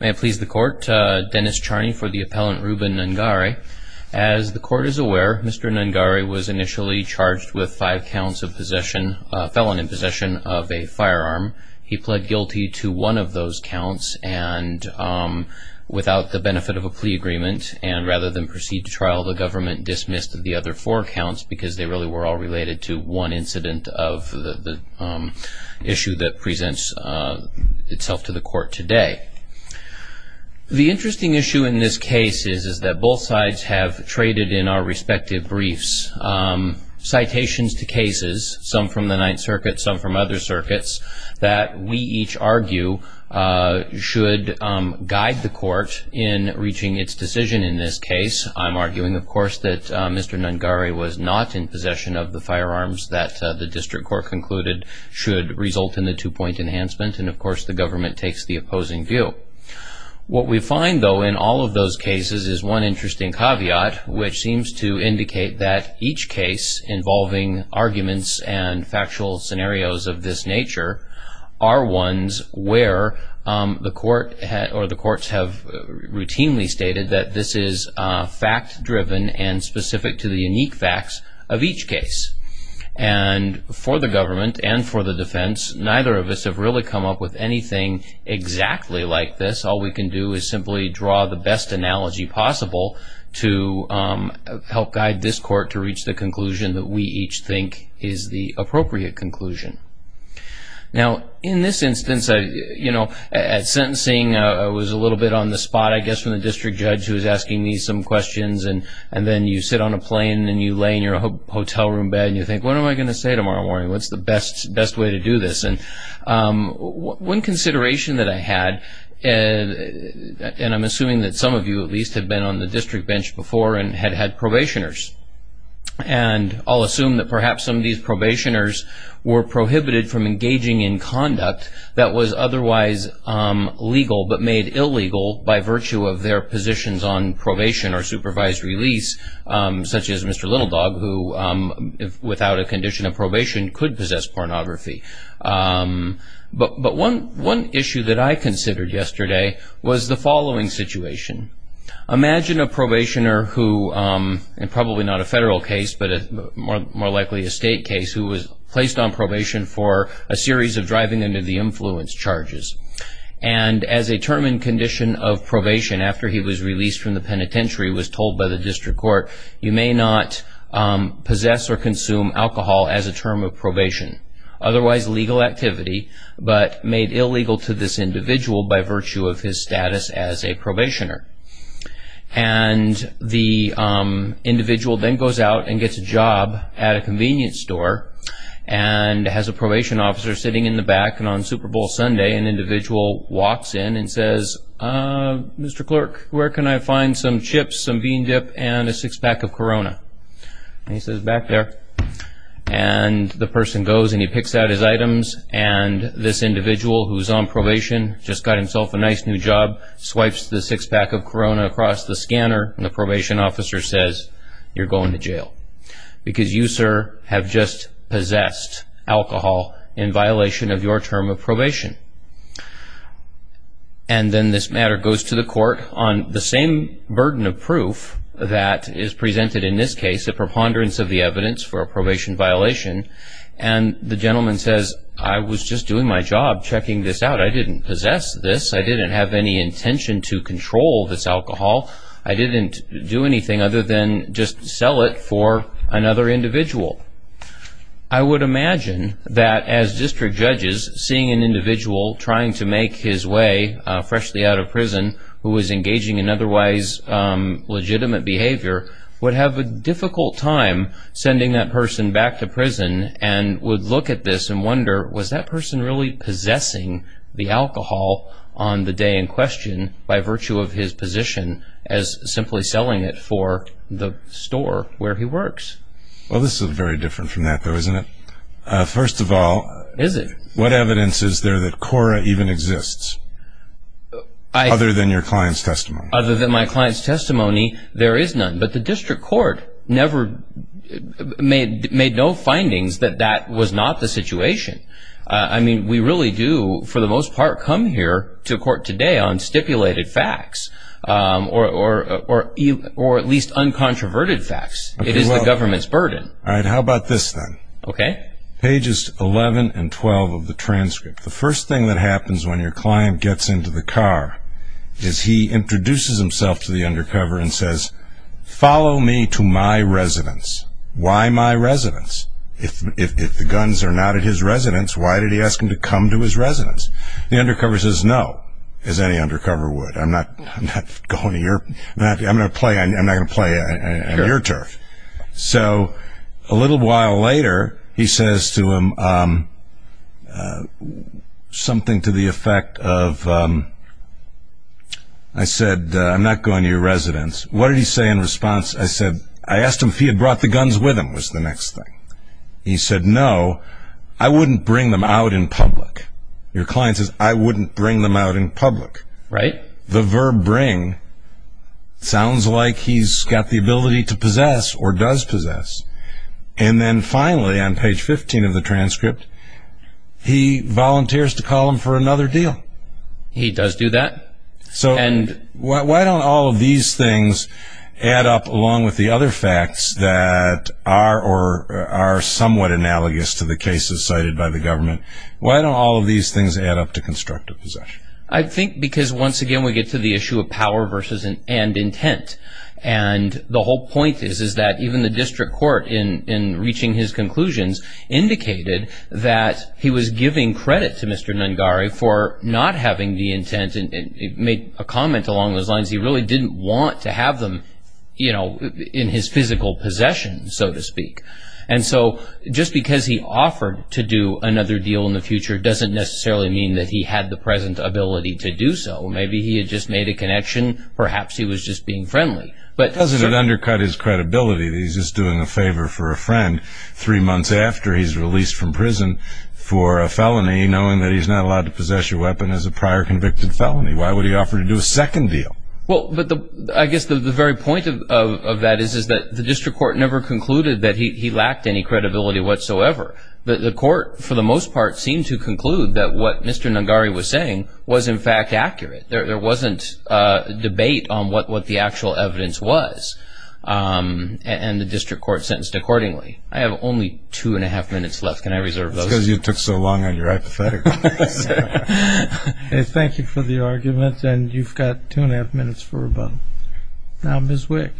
May it please the court, Dennis Charney for the appellant Ruben Nungaray. As the court is aware, Mr. Nungaray was initially charged with five counts of possession, a felon in possession of a firearm. He pled guilty to one of those counts and without the benefit of a plea agreement, and rather than proceed to trial, the government dismissed the other four counts because they really were all related to one incident of the issue that presents itself to the court today. The interesting issue in this case is that both sides have traded in our respective briefs citations to cases, some from the Ninth Circuit, some from other circuits, that we each argue should guide the court in reaching its decision in this case. I'm arguing, of course, that Mr. Nungaray was not in possession of the firearms that the district court concluded should result in the two-point enhancement, and of course the government takes the opposing view. What we find, though, in all of those cases is one interesting caveat, which seems to indicate that each case involving arguments and factual scenarios of this nature are ones where the court or the courts have routinely stated that this is fact-driven and specific to the unique facts of each case. And for the government and for the defense, neither of us have really come up with anything exactly like this. All we can do is simply draw the best analogy possible to help guide this court to reach the conclusion that we each think is the appropriate conclusion. Now, in this instance, you know, at sentencing I was a little bit on the spot, I guess, from the district judge who was asking me some questions, and then you sit on a plane and you lay in your hotel room bed and you think, what am I going to say tomorrow morning? What's the best way to do this? And one consideration that I had, and I'm assuming that some of you at least have been on the district bench before and had had probationers, and I'll assume that perhaps some of these probationers were prohibited from engaging in conduct that was otherwise legal, but made illegal by virtue of their positions on probation or supervised release, such as Mr. Little Dog, who without a condition of probation could possess pornography. But one issue that I considered yesterday was the following situation. Imagine a probationer who, and probably not a federal case, but more likely a state case, who was placed on probation for a series of driving under the influence charges. And as a term and condition of probation after he was released from the penitentiary was told by the district court, you may not possess or consume alcohol as a term of probation, otherwise legal activity, but made illegal to this individual by virtue of his status as a probationer. And the individual then goes out and gets a job at a convenience store and has a probation officer sitting in the back, and on Super Bowl Sunday an individual walks in and says, Mr. Clerk, where can I find some chips, some bean dip, and a six-pack of Corona? And he says, back there. And the person goes and he picks out his items, and this individual who's on probation, just got himself a nice new job, swipes the six-pack of Corona across the scanner, and the probation officer says, you're going to jail. Because you, sir, have just possessed alcohol in violation of your term of probation. And then this matter goes to the court on the same burden of proof that is presented in this case, a preponderance of the evidence for a probation violation. And the gentleman says, I was just doing my job checking this out. I didn't possess this. I didn't have any intention to control this alcohol. I didn't do anything other than just sell it for another individual. I would imagine that as district judges, seeing an individual trying to make his way freshly out of prison, who is engaging in otherwise legitimate behavior, would have a difficult time sending that person back to prison and would look at this and wonder, was that person really possessing the alcohol on the day in question by virtue of his position as simply selling it for the store where he works? Well, this is very different from that though, isn't it? First of all, what evidence is there that Cora even exists? Other than your client's testimony. Other than my client's testimony, there is none. But the district court never made no findings that that was not the situation. I mean, we really do, for the most part, come here to court today on stipulated facts or at least uncontroverted facts. It is the government's burden. All right. How about this then? Okay. Pages 11 and 12 of the transcript. The first thing that happens when your client gets into the car is he introduces himself to the undercover and says, follow me to my residence. Why my residence? If the guns are not at his residence, why did he ask him to come to his residence? The undercover says, no, as any undercover would. I'm not going to your, I'm not going to play your turf. So a little while later, he says to him something to the effect of, I said, I'm not going to your residence. What did he say in response? I said, I asked him if he had brought the guns with him, was the next thing. He said, no, I wouldn't bring them out in public. Your client says, I wouldn't bring them out in public, right? The verb bring sounds like he's got the ability to possess or does possess. And then finally on page 15 of the transcript, he volunteers to call him for another deal. He does do that. So why don't all of these things add up along with the other facts that are, or are somewhat analogous to the cases cited by the government? Why don't all of these things add up to constructive possession? I think because once again, we get to the issue of power versus an end intent. And the whole point is, is that even the district court in, in reaching his conclusions indicated that he was giving credit to Mr. Nungare for not having the intent. And it made a comment along those lines. He really didn't want to have them, you know, in his physical possession, so to speak. And so just because he offered to do another deal in the future, doesn't necessarily mean that he had the present ability to do so. Maybe he had just made a connection. Perhaps he was just being friendly. But doesn't it undercut his credibility that he's just doing a favor for a friend three months after he's released from prison for a felony, knowing that he's not allowed to possess your weapon as a prior convicted felony. Why would he offer to do a second deal? Well, but the, I guess the very point of that is, is that the district court never concluded that he lacked any credibility whatsoever. The court, for the most part, seemed to conclude that what Mr. Nungare was saying was in fact accurate. There wasn't a debate on what, what the actual evidence was. And the district court sentenced accordingly. I have only two and a half minutes left. Can I reserve those? Because you took so long on your hypothetical. Thank you for the arguments. And you've got two and a half minutes for rebuttal. Now, Ms. Wick.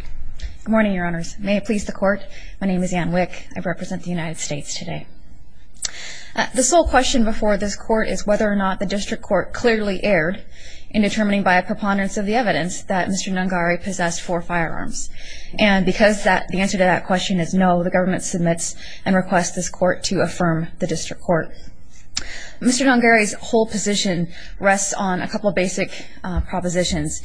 Good morning, Your Honors. May it please the court. My name is Anne Wick. I represent the United States today. The sole question before this court is whether or not the district court clearly erred in determining by a preponderance of the evidence that Mr. Nungare possessed four firearms. And because that, the answer to that question is no, the government submits and requests this court to affirm the district court. Mr. Nungare's whole position rests on a couple of basic propositions.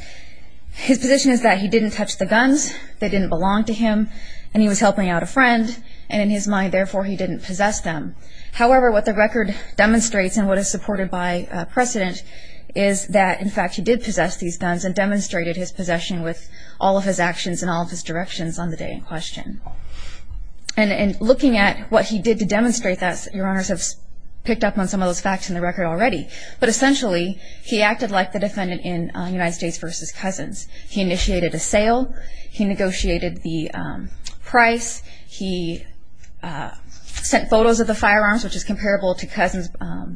His position is that he didn't touch the guns. They didn't belong to him. And he was helping out a friend. And in his mind, therefore, he didn't possess them. However, what the record demonstrates and what is supported by precedent is that, in fact, he did possess these guns and demonstrated his possession with all of his actions and all of his directions on the day in question. And looking at what he did to demonstrate that, Your Honors have picked up on some of those facts in the record already. But essentially, he acted like the defendant in United States v. Cousins. He initiated a sale. He negotiated the price. He sent photos of the firearms, which is comparable to Cousins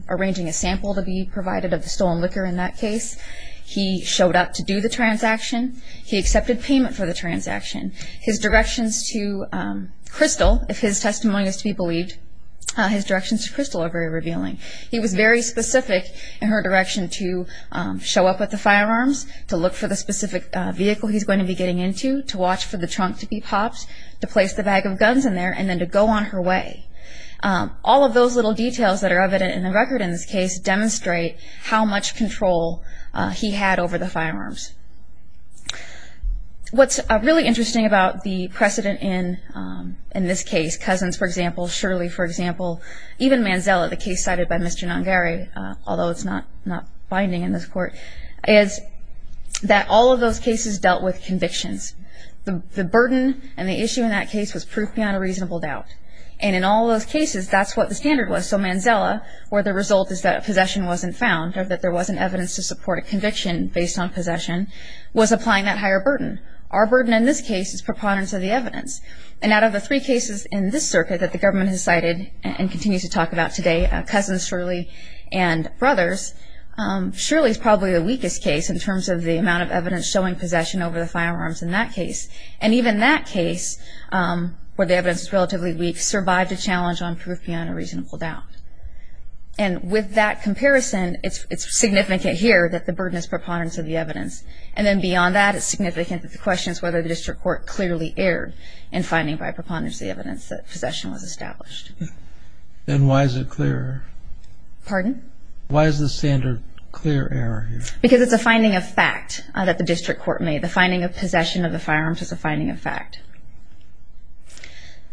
arranging a sample to be provided of the stolen liquor in that case. He showed up to do the transaction. He accepted payment for the transaction. His directions to Crystal, if his testimony is to be believed, his directions to Crystal are very revealing. He was very specific in her direction to show up with the firearms, to look for the specific vehicle he's going to be getting into, to watch for the trunk to be popped, to place the bag of guns in there, and then to go on her way. All of those little details that are evident in the record in this case demonstrate how much control he had over the firearms. What's really interesting about the precedent in this case, Cousins, for example, Shirley, for example, even Manzella, the case cited by Mr. Nongare, although it's not binding in this court, is that all of those cases dealt with convictions. The burden and the issue in that case was proof beyond a reasonable doubt. And in all those cases, that's what the standard was. So Manzella, where the result is that possession wasn't found or that there wasn't evidence to support a conviction based on possession, was applying that higher burden. Our burden in this case is preponderance of the evidence. And out of the three cases in this circuit that the government has cited and continues to talk about today, Cousins, Shirley, and Brothers, Shirley is probably the weakest case in terms of the amount of evidence showing possession over the firearms in that case. And even that case, where the evidence is relatively weak, survived a challenge on proof beyond a reasonable doubt. And with that comparison, it's significant here that the burden is preponderance of the evidence. And then beyond that, it's significant that the question is whether the district court clearly erred in finding by preponderance the evidence that possession was established. And why is it clear? Pardon? Why is the standard clear error here? Because it's a finding of fact that the district court made. The finding of possession of the firearms is a finding of fact.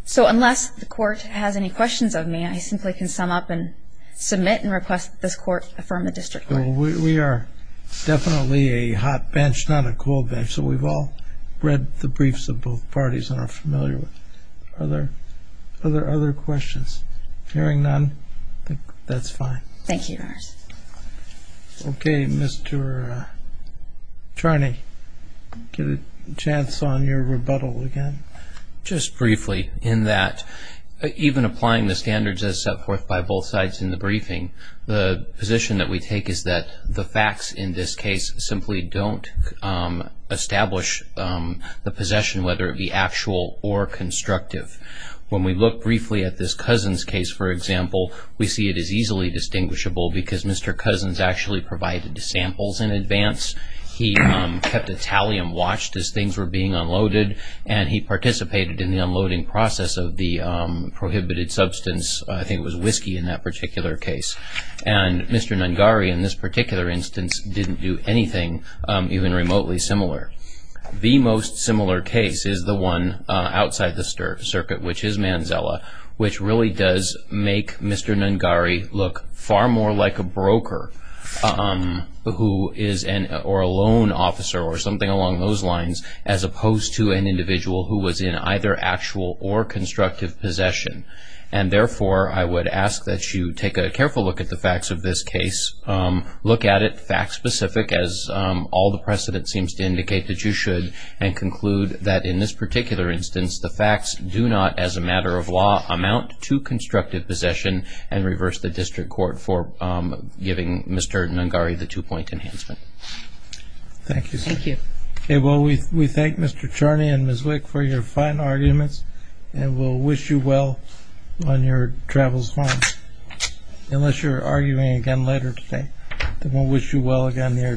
So unless the court has any questions of me, I simply can sum up and submit and request this court affirm the district court. We are definitely a hot bench, not a cold bench. So we've all read the briefs of both parties and are familiar with. Are there other questions? Hearing none, I think that's fine. Thank you, Your Honor. OK, Mr. Charney, give a chance on your rebuttal again. Just briefly, in that even applying the standards as set forth by both sides in the briefing, the position that we take is that the facts in this case simply don't establish the possession, whether it be actual or constructive. When we look briefly at this Cousins case, for example, we see it is easily distinguishable because Mr. Cousins actually provided samples in advance. He kept a tally and watched as things were being unloaded, and he participated in the unloading process of the prohibited substance. I think it was whiskey in that particular case. And Mr. Nungari, in this particular instance, didn't do anything even remotely similar. The most similar case is the one outside the circuit, which is Manzella, which really does make Mr. Nungari look far more like a broker who is an or a loan officer or something along those lines, as opposed to an individual who was in either actual or constructive possession. And therefore, I would ask that you take a careful look at the facts of this case. Look at it fact-specific, as all the precedent seems to indicate that you should, and conclude that in this particular instance, the facts do not, as a matter of law, amount to constructive possession and reverse the district court for giving Mr. Nungari the two-point enhancement. Thank you, sir. Thank you. Okay. Well, we thank Mr. Charney and Ms. Wick for your fine arguments, and we'll wish you well on your travels home, unless you're arguing again later today. Then we'll wish you well again there today.